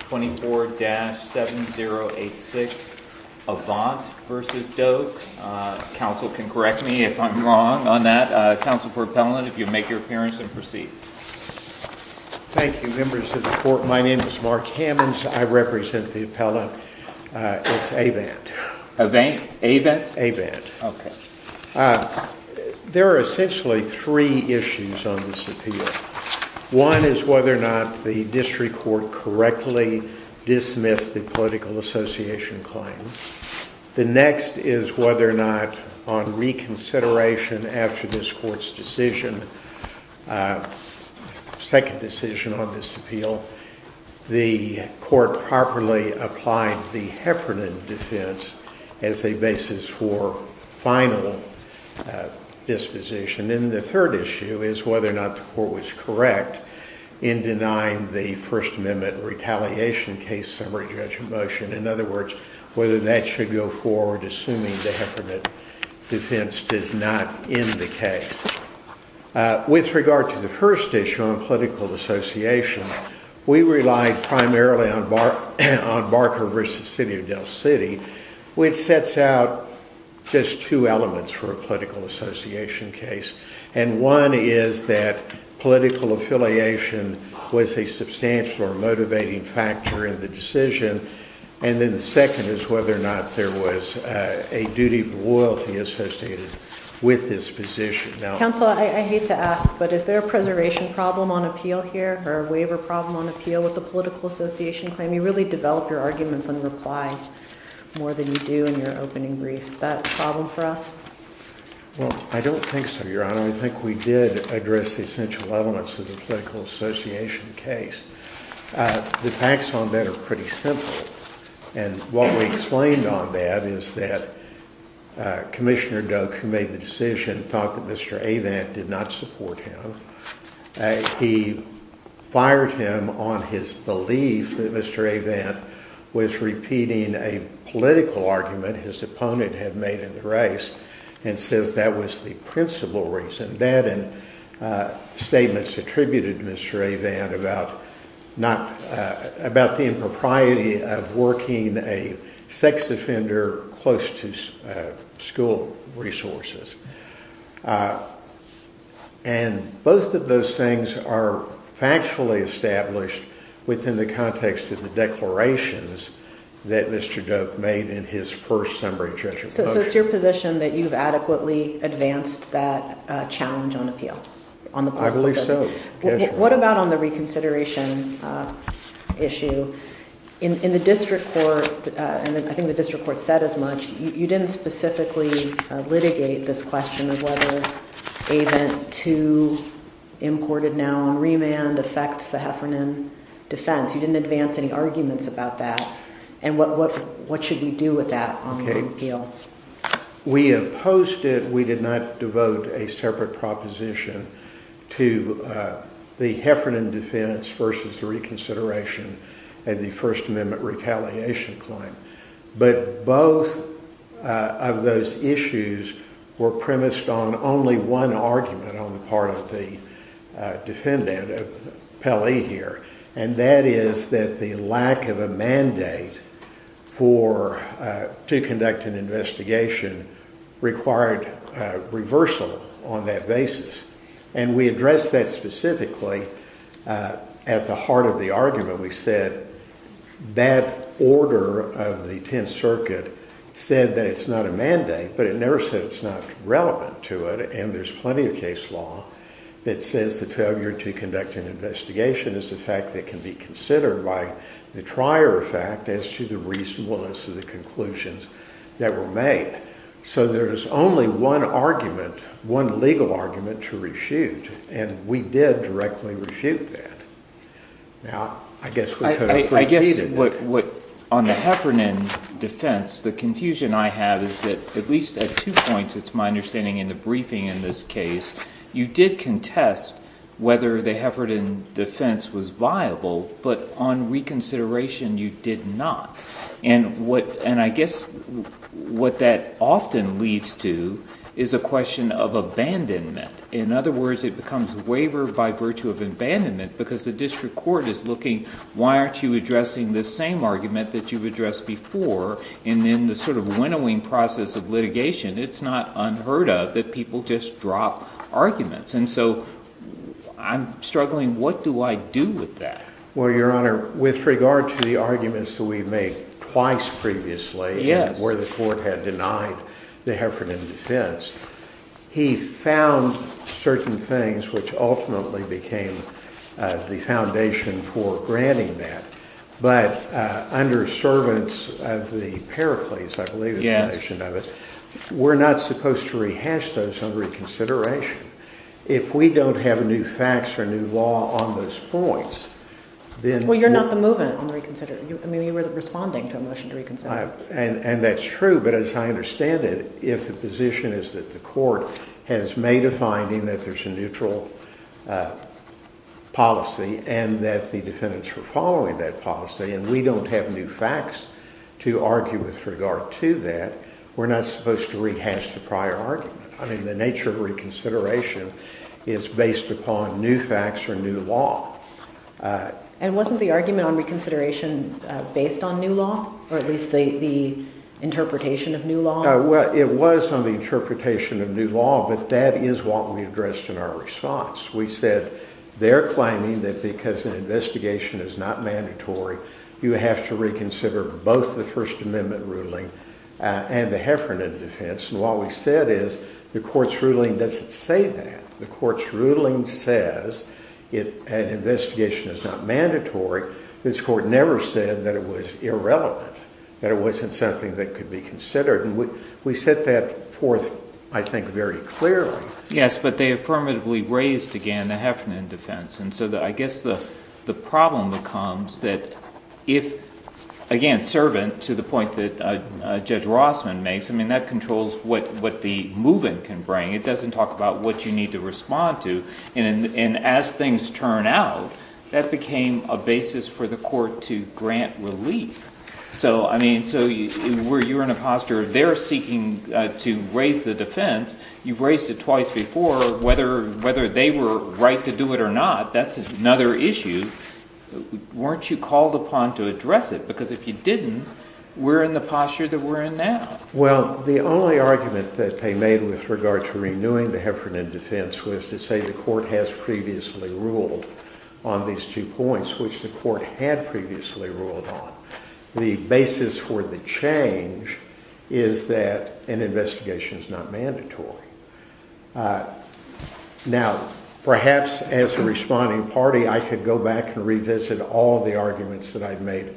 24-7086, Avant v. Doke. Council can correct me if I'm wrong on that. Council for appellant, if you'd make your appearance and proceed. Thank you, members of the court. My name is Mark Hammonds. I represent the appellant. It's Avant. Avant? Avant. Avant. Okay. There are essentially three issues on this appeal. One is whether or not the district court correctly dismissed the political association claim. The next is whether or not on reconsideration after this court's decision, second decision on this appeal, the court properly applied the Heffernan defense as a basis for final disposition. And the third issue is whether or not the court was correct in denying the First Amendment retaliation case summary judgment motion. In other words, whether that should go forward assuming the Heffernan defense does not end the case. With regard to the first issue on political association, we relied primarily on Barker v. City of Del City, which sets out just two elements for a political association case. And one is that political affiliation was a substantial or motivating factor in the decision. And then the second is whether or not there was a duty of loyalty associated with this position. Now, counsel, I hate to ask, but is there a preservation problem on appeal here or a waiver problem on appeal with the political association claim? You really develop your arguments in reply more than you do in your opening briefs. Is that a problem for us? Well, I don't think so, Your Honor. I think we did address the essential elements of the political association case. The facts on that are pretty simple. And what we explained on that is that Commissioner Doak, who made the decision, thought that Mr. Avant did not support him. He fired him on his belief that Mr. Avant was repeating a political argument his opponent had made in the race and says that was the principal reason. That and statements attributed to Mr. Avant about the impropriety of working a sex offender close to school resources. And both of those things are factually established within the context of the declarations that Mr. Doak made in his first summary judgment. So it's your position that you've adequately advanced that challenge on appeal? I believe so. What about on the reconsideration issue? In the district court, and I think the district court said as much, you didn't specifically litigate this question of whether Avent II, imported now on remand, affects the Heffernan defense. You didn't advance any arguments about that. And what should we do with that on appeal? We opposed it. We did not devote a separate proposition to the Heffernan defense versus reconsideration and the First Amendment retaliation claim. But both of those issues were premised on only one argument on the part of the defendant of Pelley here. And that is that the lack of a mandate to conduct an investigation required reversal on that basis. And we addressed that specifically at the heart of the argument. We said that order of the 10th Circuit said that it's not a mandate, but it never said it's not relevant to it. And there's plenty of case law that says the failure to conduct an investigation is a fact that can be considered by the trier effect as to the reasonableness of the conclusions that were made. So there is only one argument, one legal argument to reshoot. And we did directly reshoot that. Now, I guess I guess what what on the Heffernan defense, the confusion I have is that at least at two points, it's my understanding in the briefing in this case, you did contest whether the Heffernan defense was viable, but on reconsideration, you did not. And what and I guess what that often leads to is a question of abandonment. In other words, it becomes waiver by virtue of abandonment, because the district court is looking, why aren't you addressing this same argument that you've addressed before? And then the sort of winnowing process of litigation, it's not unheard of that people just drop arguments. And so I'm struggling, what do I do with that? Well, Your Honor, with regard to the arguments that we've made twice previously, yes, where the court had denied the Heffernan defense, he found certain things, which ultimately became the foundation for granting that. But under servants of the Pericles, I believe, we're not supposed to rehash those on reconsideration. If we don't have a new facts or new law on those points, then... Well, you're not the movement on reconsider. I mean, you were responding to a motion to reconsider. And that's true. But as I understand it, if the position is that the court has made a finding that there's a neutral policy and that the defendants were following that policy, and we don't have new facts to argue with regard to that, we're not supposed to rehash the prior argument. I mean, the nature of reconsideration is based upon new facts or new law. And wasn't the argument on reconsideration based on new law, or at least the interpretation of new law? Well, it was on the interpretation of new law, but that is what we addressed in our response. We said, they're claiming that because an investigation is not mandatory, you have to reconsider both the First Amendment ruling and the Heffernan defense. And what we said is, the court's ruling doesn't say that. The court's ruling says an investigation is not mandatory. This court never said that it was irrelevant, that it wasn't something that could be considered. And we set that forth, I think, very clearly. Yes, but they affirmatively raised, again, the Heffernan defense. And so I guess the problem becomes that if, again, servant, to the point that Judge Rossman makes, I mean, that controls what the move-in can bring. It doesn't talk about what you need to respond to. And as things turn out, that became a basis for the court to grant relief. So, I mean, so you're in a posture of they're seeking to raise the defense. You've raised it twice before. Whether they were right to do it or not, that's another issue. Weren't you called upon to address it? Because if you didn't, we're in the posture that we're in now. Well, the only argument that they made with regard to renewing the Heffernan defense was to say the court has previously ruled on these two points, which the court had previously ruled on. The basis for the change is that an investigation is not mandatory. Now, perhaps as a responding party, I could go back and revisit all the arguments that I've made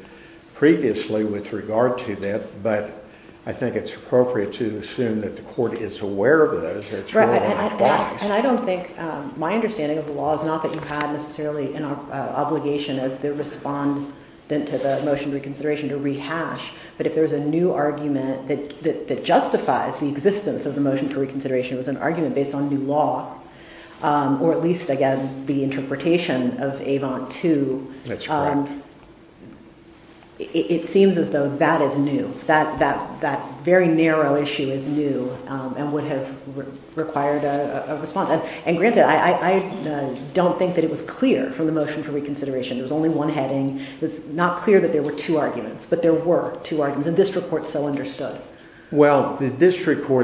previously with regard to that. But I think it's appropriate to assume that the court is aware of those. That's right. And I don't think, my understanding of the law is not that you had necessarily an obligation as the respondent to the motion for reconsideration to rehash. But if there's a new argument that justifies the existence of the motion for reconsideration, it was an argument based on new law, or at least, again, the interpretation of Avon 2, it seems as though that is new. That very narrow issue is new and would have required a response. And granted, I don't think that it was clear from the motion for reconsideration. There was only one heading. It's not clear that there were two arguments, but there were two arguments. And the district court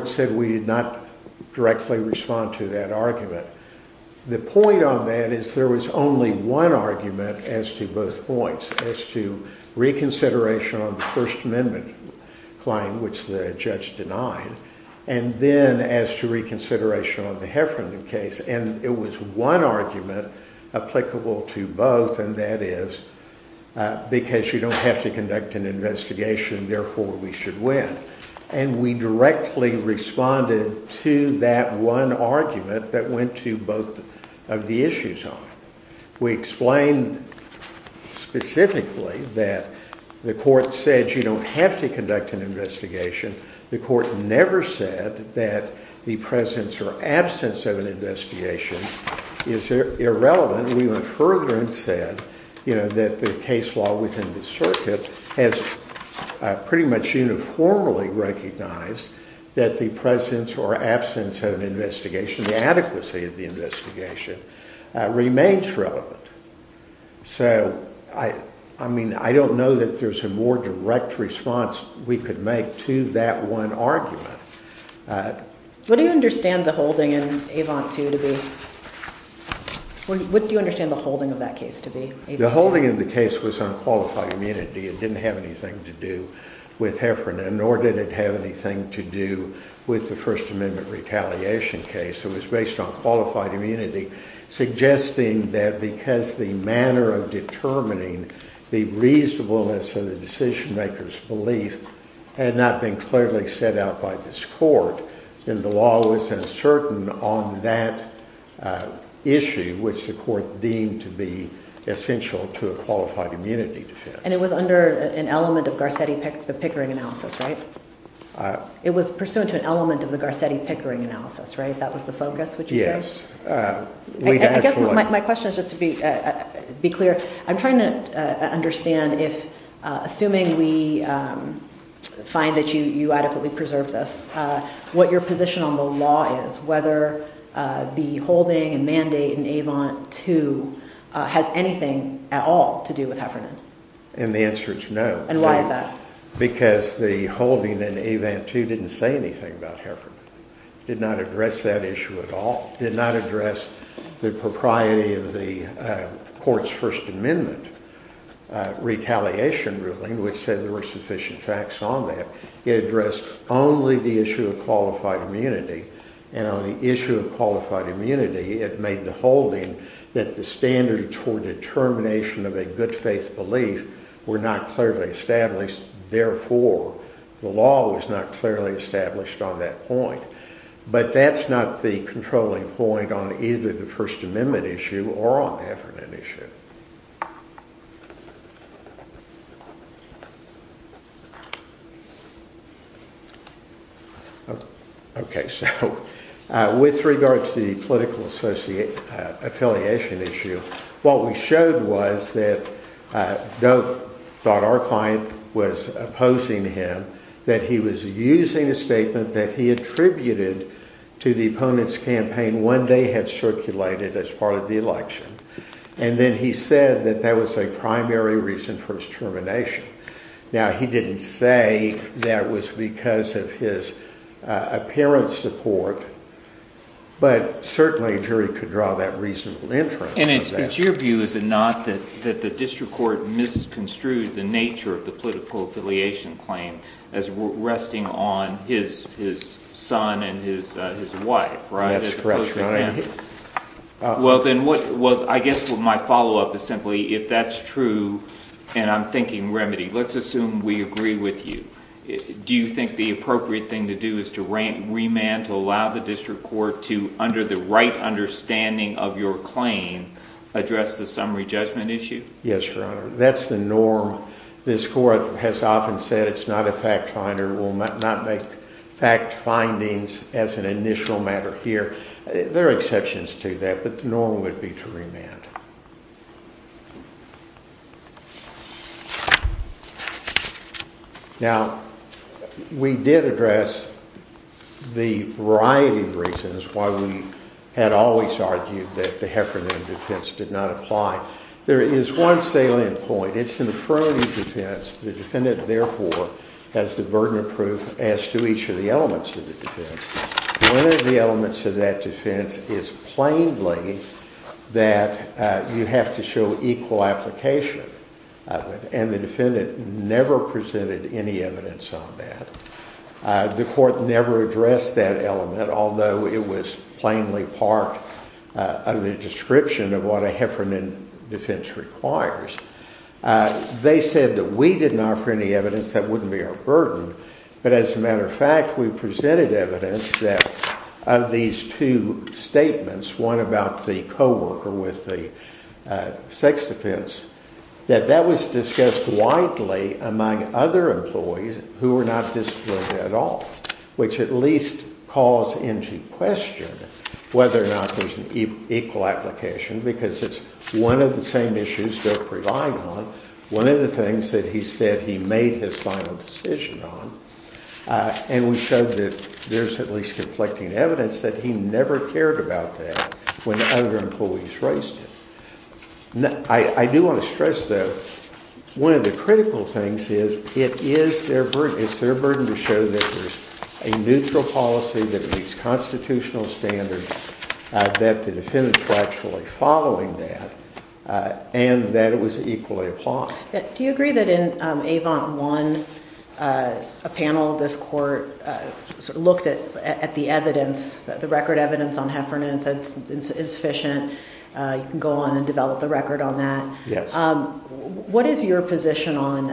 said we did not directly respond to that argument. The point on that is there was only one argument as to both points, as to reconsideration on the First Amendment claim, which the judge denied, and then as to reconsideration on the Heffernan case. And it was one argument applicable to both. And that is because you don't have to conduct an investigation, therefore we should win. And we directly responded to that one argument that went to both of the issues on it. We explained specifically that the court said you don't have to conduct an investigation. The court never said that the presence or absence of an investigation is irrelevant. We went further and said that the case law within the circuit has pretty much uniformly recognized that the presence or absence of an investigation, the adequacy of the investigation, remains relevant. So I mean, I don't know that there's a more direct response we could make to that one argument. What do you understand the holding in Avon 2 to be? What do you understand the holding of that case to be? The holding of the case was on qualified immunity. It didn't have anything to do with Heffernan, nor did it have anything to do with the First Amendment retaliation case. It was based on qualified immunity, suggesting that because the manner of determining the reasonableness of the decision-maker's belief had not been clearly set out by this court, then the law was uncertain on that issue, which the court deemed to be essential to a qualified immunity defense. And it was under an element of Garcetti Pickering analysis, right? It was pursuant to an element of the Garcetti Pickering analysis, right? That was the focus, would you say? Yes. I guess my question is just to be clear. I'm trying to understand if, assuming we find that you adequately preserve this, what your position on the law is, whether the holding and mandate in Avon 2 has anything at all to do with Heffernan. And the answer is no. And why is that? Because the holding in Avon 2 didn't say anything about Heffernan. It did not address that issue at all. It did not address the propriety of the court's First Amendment retaliation ruling, which said there were sufficient facts on that. It addressed only the issue of qualified immunity. And on the issue of qualified immunity, it made the holding that the standards for determination of a good faith belief were not clearly established. Therefore, the law was not clearly established on that point. But that's not the controlling point on either the First Amendment issue or on Heffernan issue. Okay. So, with regard to the political affiliation issue, what we showed was that Doak thought our client was opposing him, that he was using a statement that he attributed to the opponent's campaign when they had circulated as part of the election. And then he said that that was a primary reason for his termination. Now, he didn't say that it was because of his apparent support, but certainly a jury could draw that reasonable inference. And it's your view, is it not, that the district court misconstrued the nature of the political affiliation claim as resting on his son and his wife, right? That's correct. All right. Well, then, I guess my follow-up is simply, if that's true, and I'm thinking remedy, let's assume we agree with you. Do you think the appropriate thing to do is to remand, to allow the district court to, under the right understanding of your claim, address the summary judgment issue? Yes, Your Honor. That's the norm. This court has often said it's not a fact finder. We'll not make fact findings as an initial matter here. There are exceptions to that, but the norm would be to remand. Now, we did address the variety of reasons why we had always argued that the Heffernan defense did not apply. There is one salient point. It's an affirmative defense. The defendant, therefore, has the burden of proof as to each of the elements of the defense. One of the elements of that defense is plainly that you have to show equal application of it, and the defendant never presented any evidence on that. The court never addressed that element, although it was plainly part of the description of what a Heffernan defense requires. They said that we didn't offer any evidence. That wouldn't be our burden. But as a matter of fact, we presented evidence that of these two statements, one about the coworker with the sex defense, that that was discussed widely among other employees who were not disciplined at all, which at least calls into question whether or not there's an equal application, because it's one of the same issues they're relying on, one of the things that he said he made his final decision on, and we showed that there's at least conflicting evidence that he never cared about that when other employees raised it. I do want to stress, though, one of the critical things is it is their burden. It's their burden to show that there's a neutral policy that meets constitutional standards, that the defendant's actually following that, and that it was equally applied. Do you agree that in Avant 1, a panel of this court sort of looked at the evidence, the record evidence on Heffernan, and said it's insufficient, you can go on and develop the record on that. Yes. What is your position on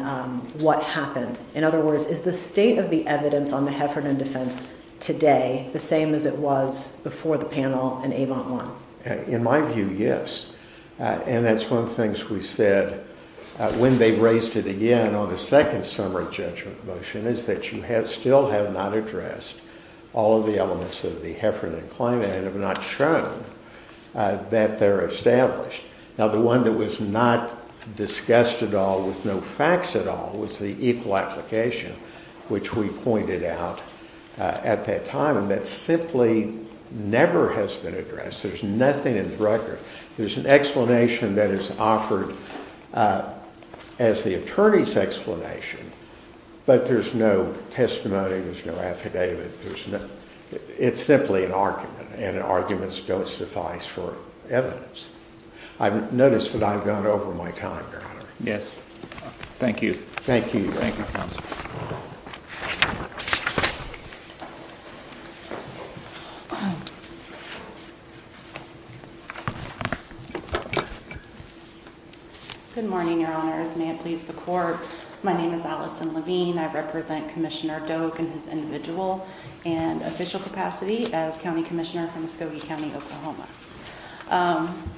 what happened? In other words, is the state of the on the Heffernan defense today the same as it was before the panel in Avant 1? In my view, yes, and that's one of the things we said when they raised it again on the second summary judgment motion, is that you still have not addressed all of the elements of the Heffernan claim and have not shown that they're established. Now, the one that was not discussed at all with no facts at all was the equal application, which we pointed out at that time, and that simply never has been addressed. There's nothing in the record. There's an explanation that is offered as the attorney's explanation, but there's no testimony, there's no affidavit, there's no, it's simply an argument, and arguments don't suffice for evidence. I've noticed that I've gone over my time, Your Honor. Yes. Thank you. Thank you. Thank you. Good morning, Your Honors. May it please the court. My name is Allison Levine. I represent Commissioner Doak and his individual and official capacity as county commissioner from Muskogee County, Oklahoma.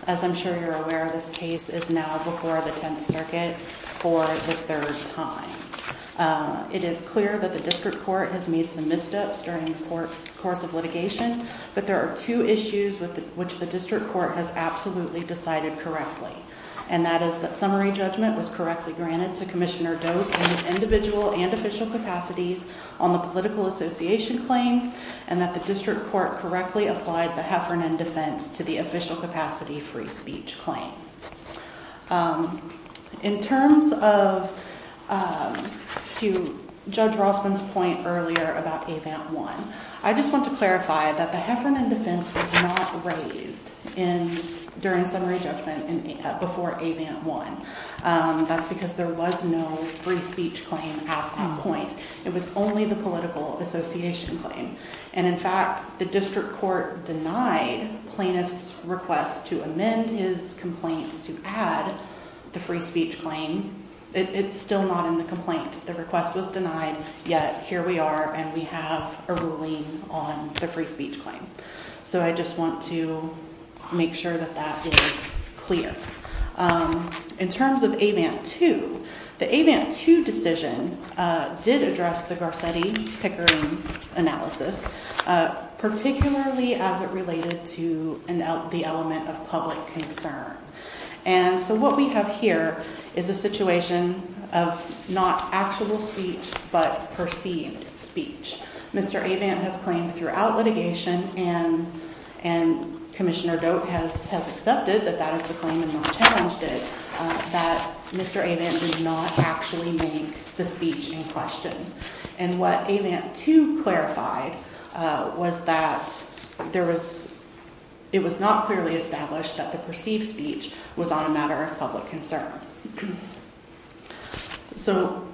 As I'm sure you're aware, this case is now before the Tenth Circuit for the third time. It is clear that the district court has made some missteps during the court course of litigation, but there are two issues with which the district court has absolutely decided correctly, and that is that summary judgment was correctly granted to Commissioner Doak and his individual and official capacities on the political association claim, and that the district court correctly applied the Heffernan defense to the official capacity free speech claim. In terms of, to Judge Rossman's point earlier about AVANT 1, I just want to clarify that the Heffernan defense was not raised in, during summary judgment before AVANT 1. That's because there was no free speech claim at that point. It was only the political association claim, and in fact, the district court denied plaintiff's request to amend his complaint to add the free speech claim. It's still not in the complaint. The request was denied, yet here we are and we have a ruling on the free speech claim. So I just want to make sure that that is clear. In terms of AVANT 2, the AVANT 2 decision did address the Garcetti-Pickering analysis, particularly as it related to the element of public concern, and so what we have here is a situation of not actual speech, but perceived speech. Mr. AVANT has claimed throughout litigation and Commissioner Doak has accepted that that is the claim and not challenged it, that Mr. AVANT did not actually make the speech in question, and what AVANT 2 clarified was that it was not clearly established that the perceived speech was on a matter of public concern. So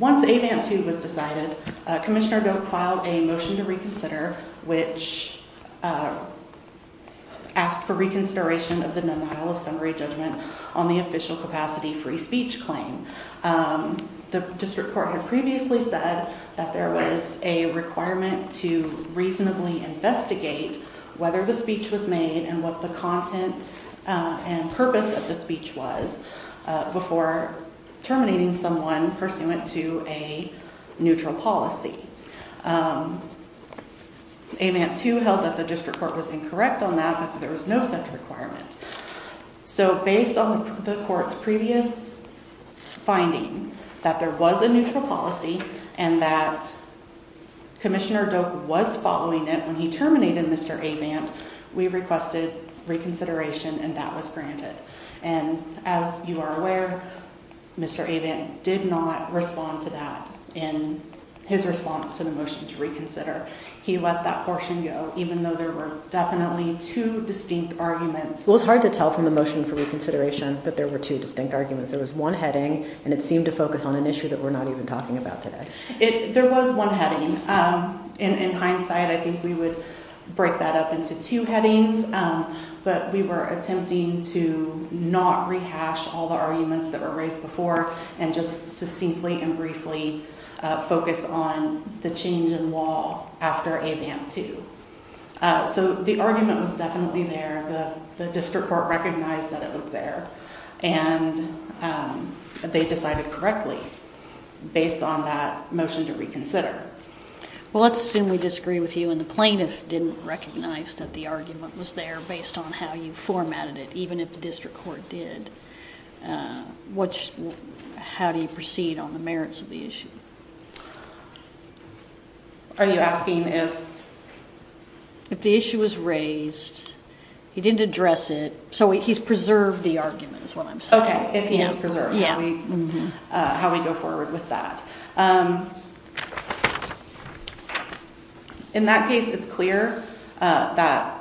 once AVANT 2 was decided, Commissioner Doak filed a motion to reconsider, which asked for reconsideration of the denial of summary judgment on the official capacity free speech claim. The district court had previously said that there was a requirement to reasonably investigate whether the speech was made and what the content and purpose of the speech was, before terminating someone pursuant to a neutral policy. AVANT 2 held that the district court was incorrect on that, that there was no such requirement. So based on the court's previous finding that there was a neutral policy and that Commissioner Doak was following it when he Mr. AVANT, we requested reconsideration and that was granted. And as you are aware, Mr. AVANT did not respond to that in his response to the motion to reconsider. He let that portion go, even though there were definitely two distinct arguments. Well, it's hard to tell from the motion for reconsideration that there were two distinct arguments. There was one heading and it seemed to focus on an issue that we're not even talking about today. There was one heading. In hindsight, I think we would break that up into two headings, but we were attempting to not rehash all the arguments that were raised before and just succinctly and briefly focus on the change in law after AVANT 2. So the argument was definitely there. The district court recognized that it was there and they decided correctly based on that motion to reconsider. Well, let's assume we agree with you and the plaintiff didn't recognize that the argument was there based on how you formatted it, even if the district court did. How do you proceed on the merits of the issue? Are you asking if? If the issue was raised, he didn't address it, so he's preserved the argument is what I'm saying. Okay, if he is preserved. How we go forward with that. In that case, it's clear that.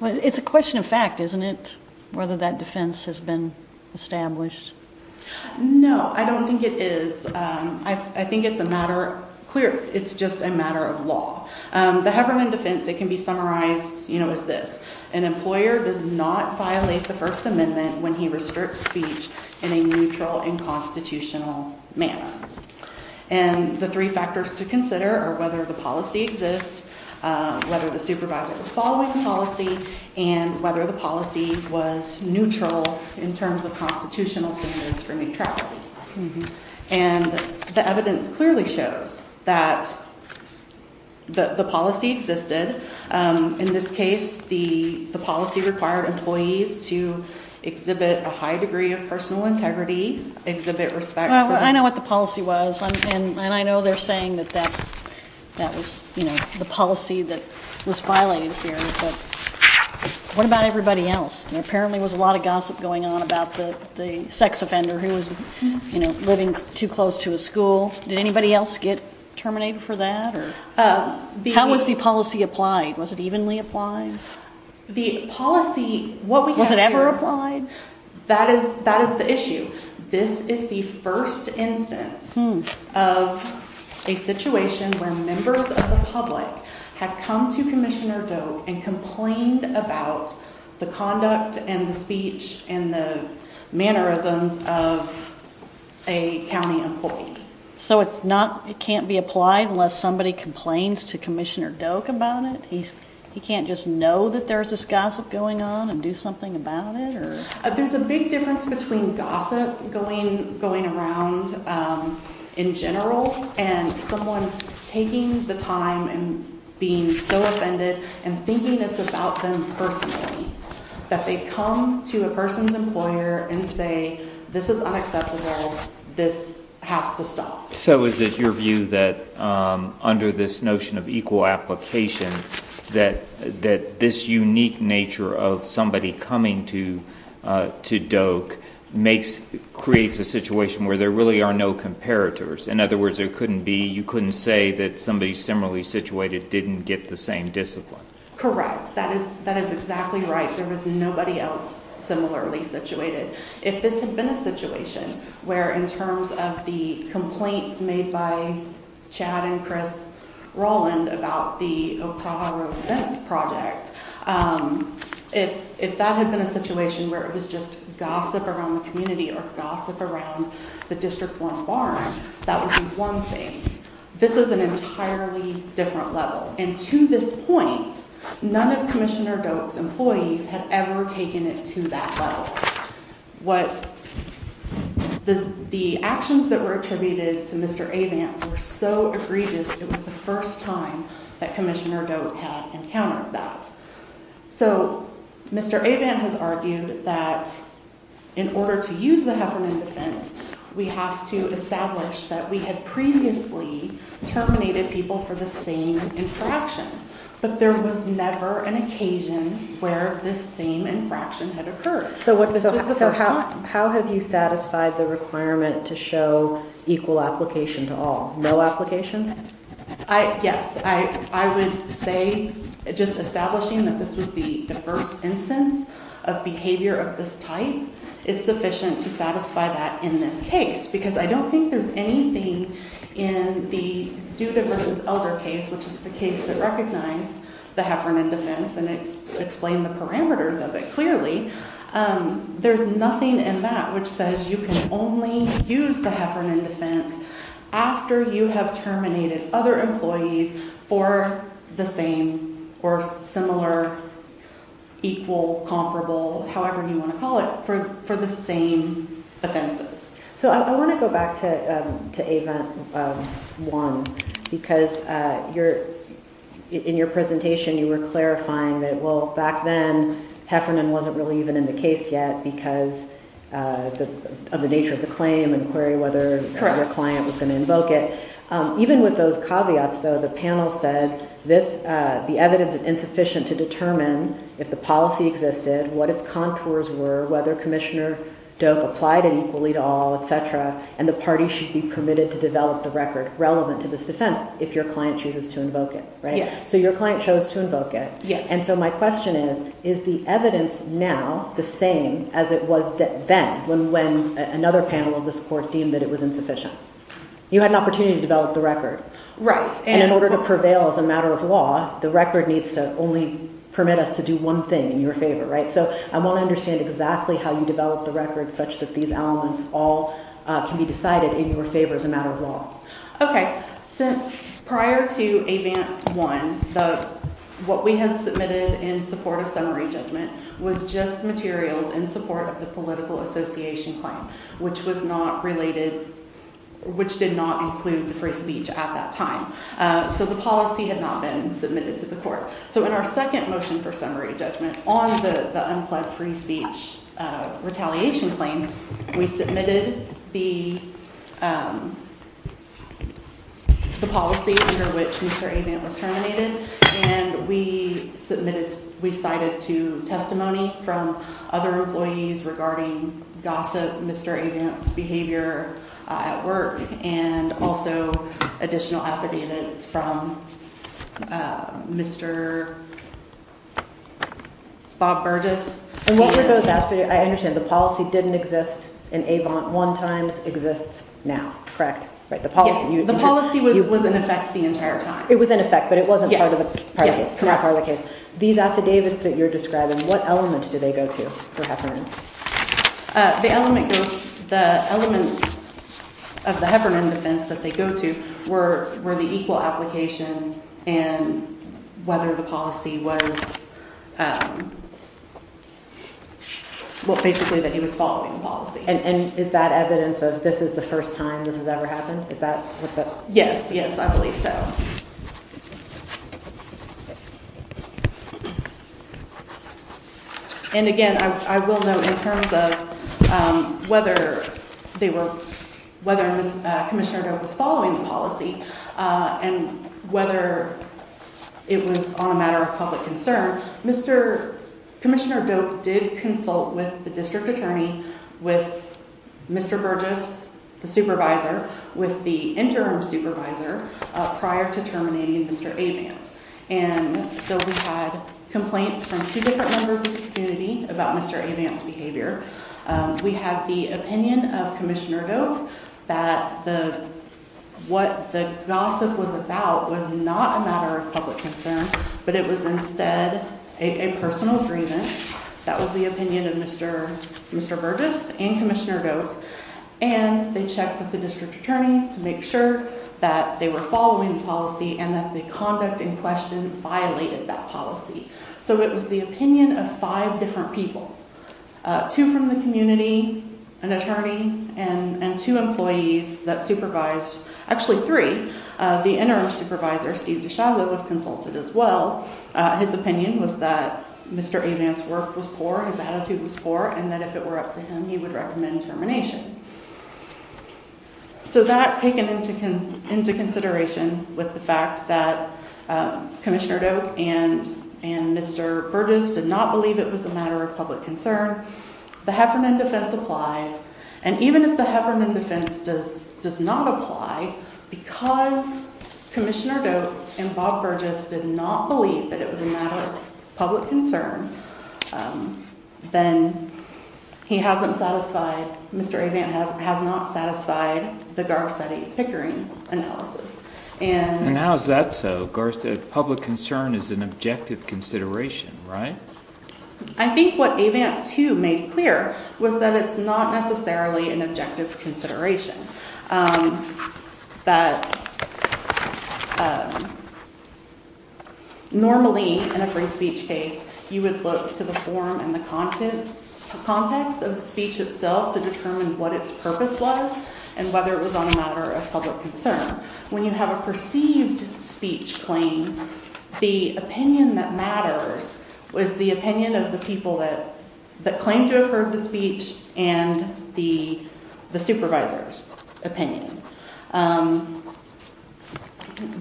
Well, it's a question of fact, isn't it? Whether that defense has been established? No, I don't think it is. I think it's a matter clear. It's just a matter of law. The Heverman defense, it can be summarized as this. An employer does not violate the First Amendment when he restricts speech in a neutral and constitutional manner. And the three factors to consider are whether the policy exists, whether the supervisor was following the policy and whether the policy was neutral in terms of constitutional standards for me. And the evidence clearly shows that the policy existed. In this case, the policy required employees to exhibit a high degree of personal integrity exhibit respect. I know what the policy was, and I know they're saying that that was the policy that was violated here. What about everybody else? And apparently there was a lot of gossip going on about the sex offender who was living too close to a school. Did anybody else get terminated for that? How was the policy applied? Was it evenly applied? The policy, was it ever applied? That is the issue. This is the first instance of a situation where members of the public have come to Commissioner Doak and complained about the conduct and the speech and the mannerisms of a county employee. So it can't be applied unless somebody complains to Commissioner Doak about it? He can't just know that there's this gossip going on and do something about it? There's a big difference between gossip going around in general and someone taking the time and being so offended and thinking it's about them personally, that they come to a person's employer and say, this is unacceptable. This has to stop. So is it your view that under this notion of equal application that this unique nature of somebody coming to Doak creates a situation where there really are no comparators? In other words, you couldn't say that somebody similarly situated didn't get the same discipline? Correct. That is exactly right. There was nobody else similarly situated. If this had been a situation where in terms of the complaints made by Chad and Chris Rowland about the Oktaha Road events project, if that had been a situation where it was just gossip around the community or gossip around the District 1 barn, that would be one thing. This is an entirely different level. And to this point, none of Commissioner Doak's employees had ever taken it to that level. The actions that were attributed to Mr. Avant were so egregious, it was the first time that Commissioner Doak had encountered that. So Mr. Avant has argued that in order to use the Heffernan defense, we have to establish that we had previously terminated people for the same infraction. But there was never an occasion where this same infraction had occurred. So how have you satisfied the requirement to show equal application to all? No application? Yes. I would say just establishing that this was the diverse instance of behavior of this type is sufficient to satisfy that in this case, because I don't think there's anything in the Duda v. Elder case, which is the case that recognized the Heffernan defense and explained the parameters of it clearly. There's nothing in that which says you can only use the Heffernan defense after you have terminated other employees for the same or similar, equal, comparable, however you want to call it, for the same offenses. So I want to go back to Avent 1, because in your presentation you were clarifying that, well, back then Heffernan wasn't really even in the case yet because of the nature of the claim and query whether the client was going to invoke it. Even with those caveats, though, the panel said the evidence is insufficient to determine if the policy existed, what its contours were, whether Commissioner Doak applied it equally to all, etc., and the party should be permitted to develop the record relevant to this defense if your client chooses to invoke it, right? Yes. So your client chose to invoke it. Yes. And so my question is, is the evidence now the same as it was then when another panel of this Court deemed that it was insufficient? You had an opportunity to develop the record. Right. And in order to prevail as a matter of law, the record needs to only permit us to do one thing in your favor, right? So I want to understand exactly how you developed the record such that these elements all can be decided in your favor as a matter of law. Okay. So prior to Avant 1, what we had submitted in support of summary judgment was just materials in support of the political association claim, which was not related, which did not include the free speech at that time. So the policy had not been submitted to the Court. So in our second motion for summary judgment on the unplanned free speech retaliation claim, we submitted the policy under which Mr. Avant was terminated. And we submitted, we cited to testimony from other employees regarding gossip, Mr. Avant's behavior at work, and also additional affidavits from Mr. Bob Burgess. And what were those affidavits? I didn't exist in Avant 1 times exists now, correct? The policy was in effect the entire time. It was in effect, but it wasn't part of the case. These affidavits that you're describing, what element do they go to for Heffernan? The elements of the Heffernan defense that they go to were the equal application and whether the policy was, well, basically that he was following the policy. And is that evidence of this is the first time this has ever happened? Is that what the? Yes, yes, I believe so. And again, I will note in terms of whether they were, whether Commissioner Doak was following the policy and whether it was on a matter of public concern, Mr. Commissioner Doak did consult with the district attorney, with Mr. Burgess, the supervisor, with the interim supervisor prior to terminating Mr. Avant. And so we've had complaints from two different members of the community about Mr. Avant's behavior. We have the opinion of Commissioner Doak that the, what the gossip was about was not a matter of public concern, but it was instead a personal grievance. That was the opinion of Mr. Mr. Burgess and Commissioner Doak. And they checked with the district attorney to make sure that they were following the policy and that the conduct in question violated that policy. So it was the opinion of five different people. Two from the community, an attorney, and two employees that supervised, actually three, the interim supervisor, Steve DeShazza, was consulted as well. His opinion was that Mr. Avant's work was poor, his attitude was poor, and that if it were up to him, he would recommend termination. So that taken into consideration with the fact that Commissioner Doak and Mr. Burgess did not believe it was a matter of public concern, the Heffernan defense applies. And even if the Heffernan defense does does not apply, because Commissioner Doak and Bob Burgess did not believe that it was a matter of public concern, then he hasn't satisfied, Mr. Avant has not satisfied the Garcetti Pickering analysis. And how is that so? Garcetti, public concern is an objective consideration, right? I think what Avant, too, made clear was that it's not necessarily an objective consideration. That normally in a free speech case, you would look to the form and the content, context of the speech itself to determine what its purpose was and whether it was on a public concern. When you have a perceived speech claim, the opinion that matters was the opinion of the people that claimed to have heard the speech and the supervisor's opinion.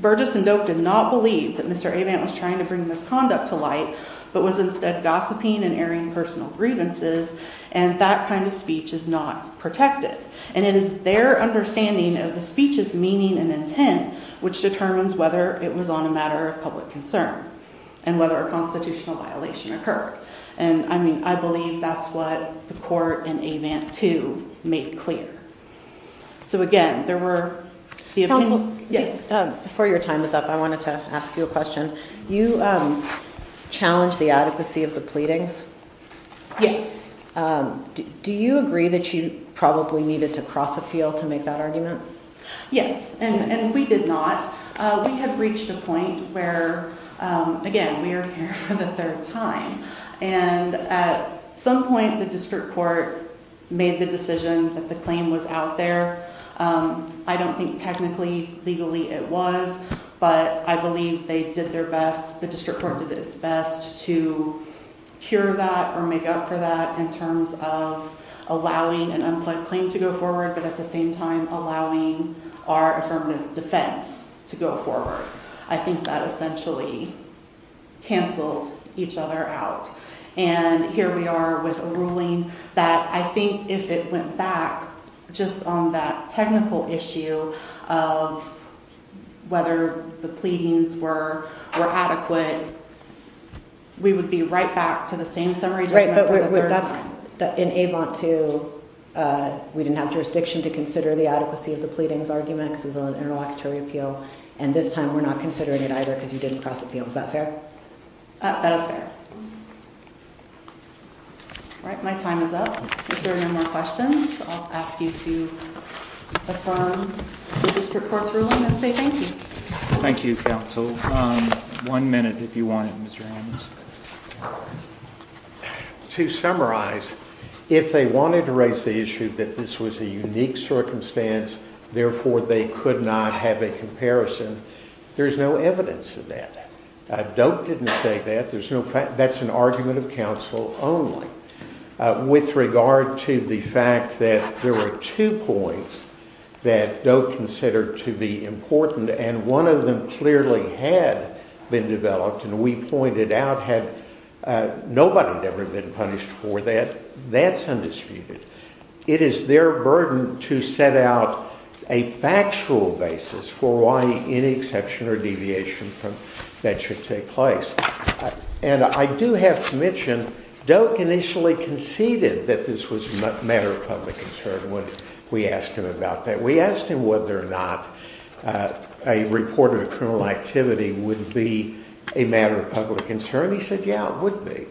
Burgess and Doak did not believe that Mr. Avant was trying to bring misconduct to light, but was instead gossiping and airing personal grievances, and that kind of speech is not protected. And it is their understanding of the speech's meaning and intent which determines whether it was on a matter of public concern and whether a constitutional violation occurred. And, I mean, I believe that's what the court in Avant, too, made clear. So, again, there were the opinion... Counsel, before your time is up, I wanted to ask you a question. You challenged the adequacy of the pleadings? Yes. Do you agree that you probably needed to cross a field to make that argument? Yes, and we did not. We had reached a point where, again, we are here for the third time, and at some point the district court made the decision that the claim was out there. I don't think technically, legally it was, but I believe they did their best, the district court did its best to cure that or make up for that in terms of allowing an unplugged claim to go forward, but at the same time allowing our affirmative defense to go forward. I think that essentially canceled each other out. And here we are with a ruling that I think if it went back just on that technical issue of whether the pleadings were adequate, we would be right back to the same summary... Right, but that's... In Avant, too, we didn't have jurisdiction to consider the adequacy of the pleadings argument because it was an interlocutory appeal, and this time we're not considering it either because you didn't cross the field. Is that fair? That is fair. All right, my time is up. If there are no more questions, I'll ask you to affirm the district court's ruling and say thank you. Thank you, counsel. One minute, if you want it, Mr. Adams. To summarize, if they wanted to raise the issue that this was a unique circumstance, therefore they could not have a comparison, there's no evidence of that. Doak didn't say that. There's no fact... That's an argument of counsel only. With regard to the fact that there were two points that Doak considered to be important, and one of them clearly had been developed, and we pointed out had nobody never been punished for that, that's undisputed. It is their burden to set out a factual basis for why any exception or deviation that should take place, and I do have to mention Doak initially conceded that this was a matter of public concern when we asked him about that. We asked him whether or not a report of a criminal activity would be a matter of public concern. He said, yeah, it would be.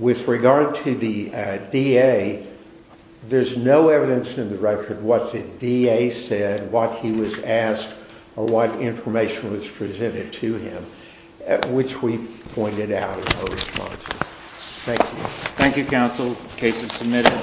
With regard to the DA, there's no evidence in the record what the DA said, what he was asked, or what information was presented to him, which we pointed out are no responses. Thank you. Thank you, counsel. Case is submitted.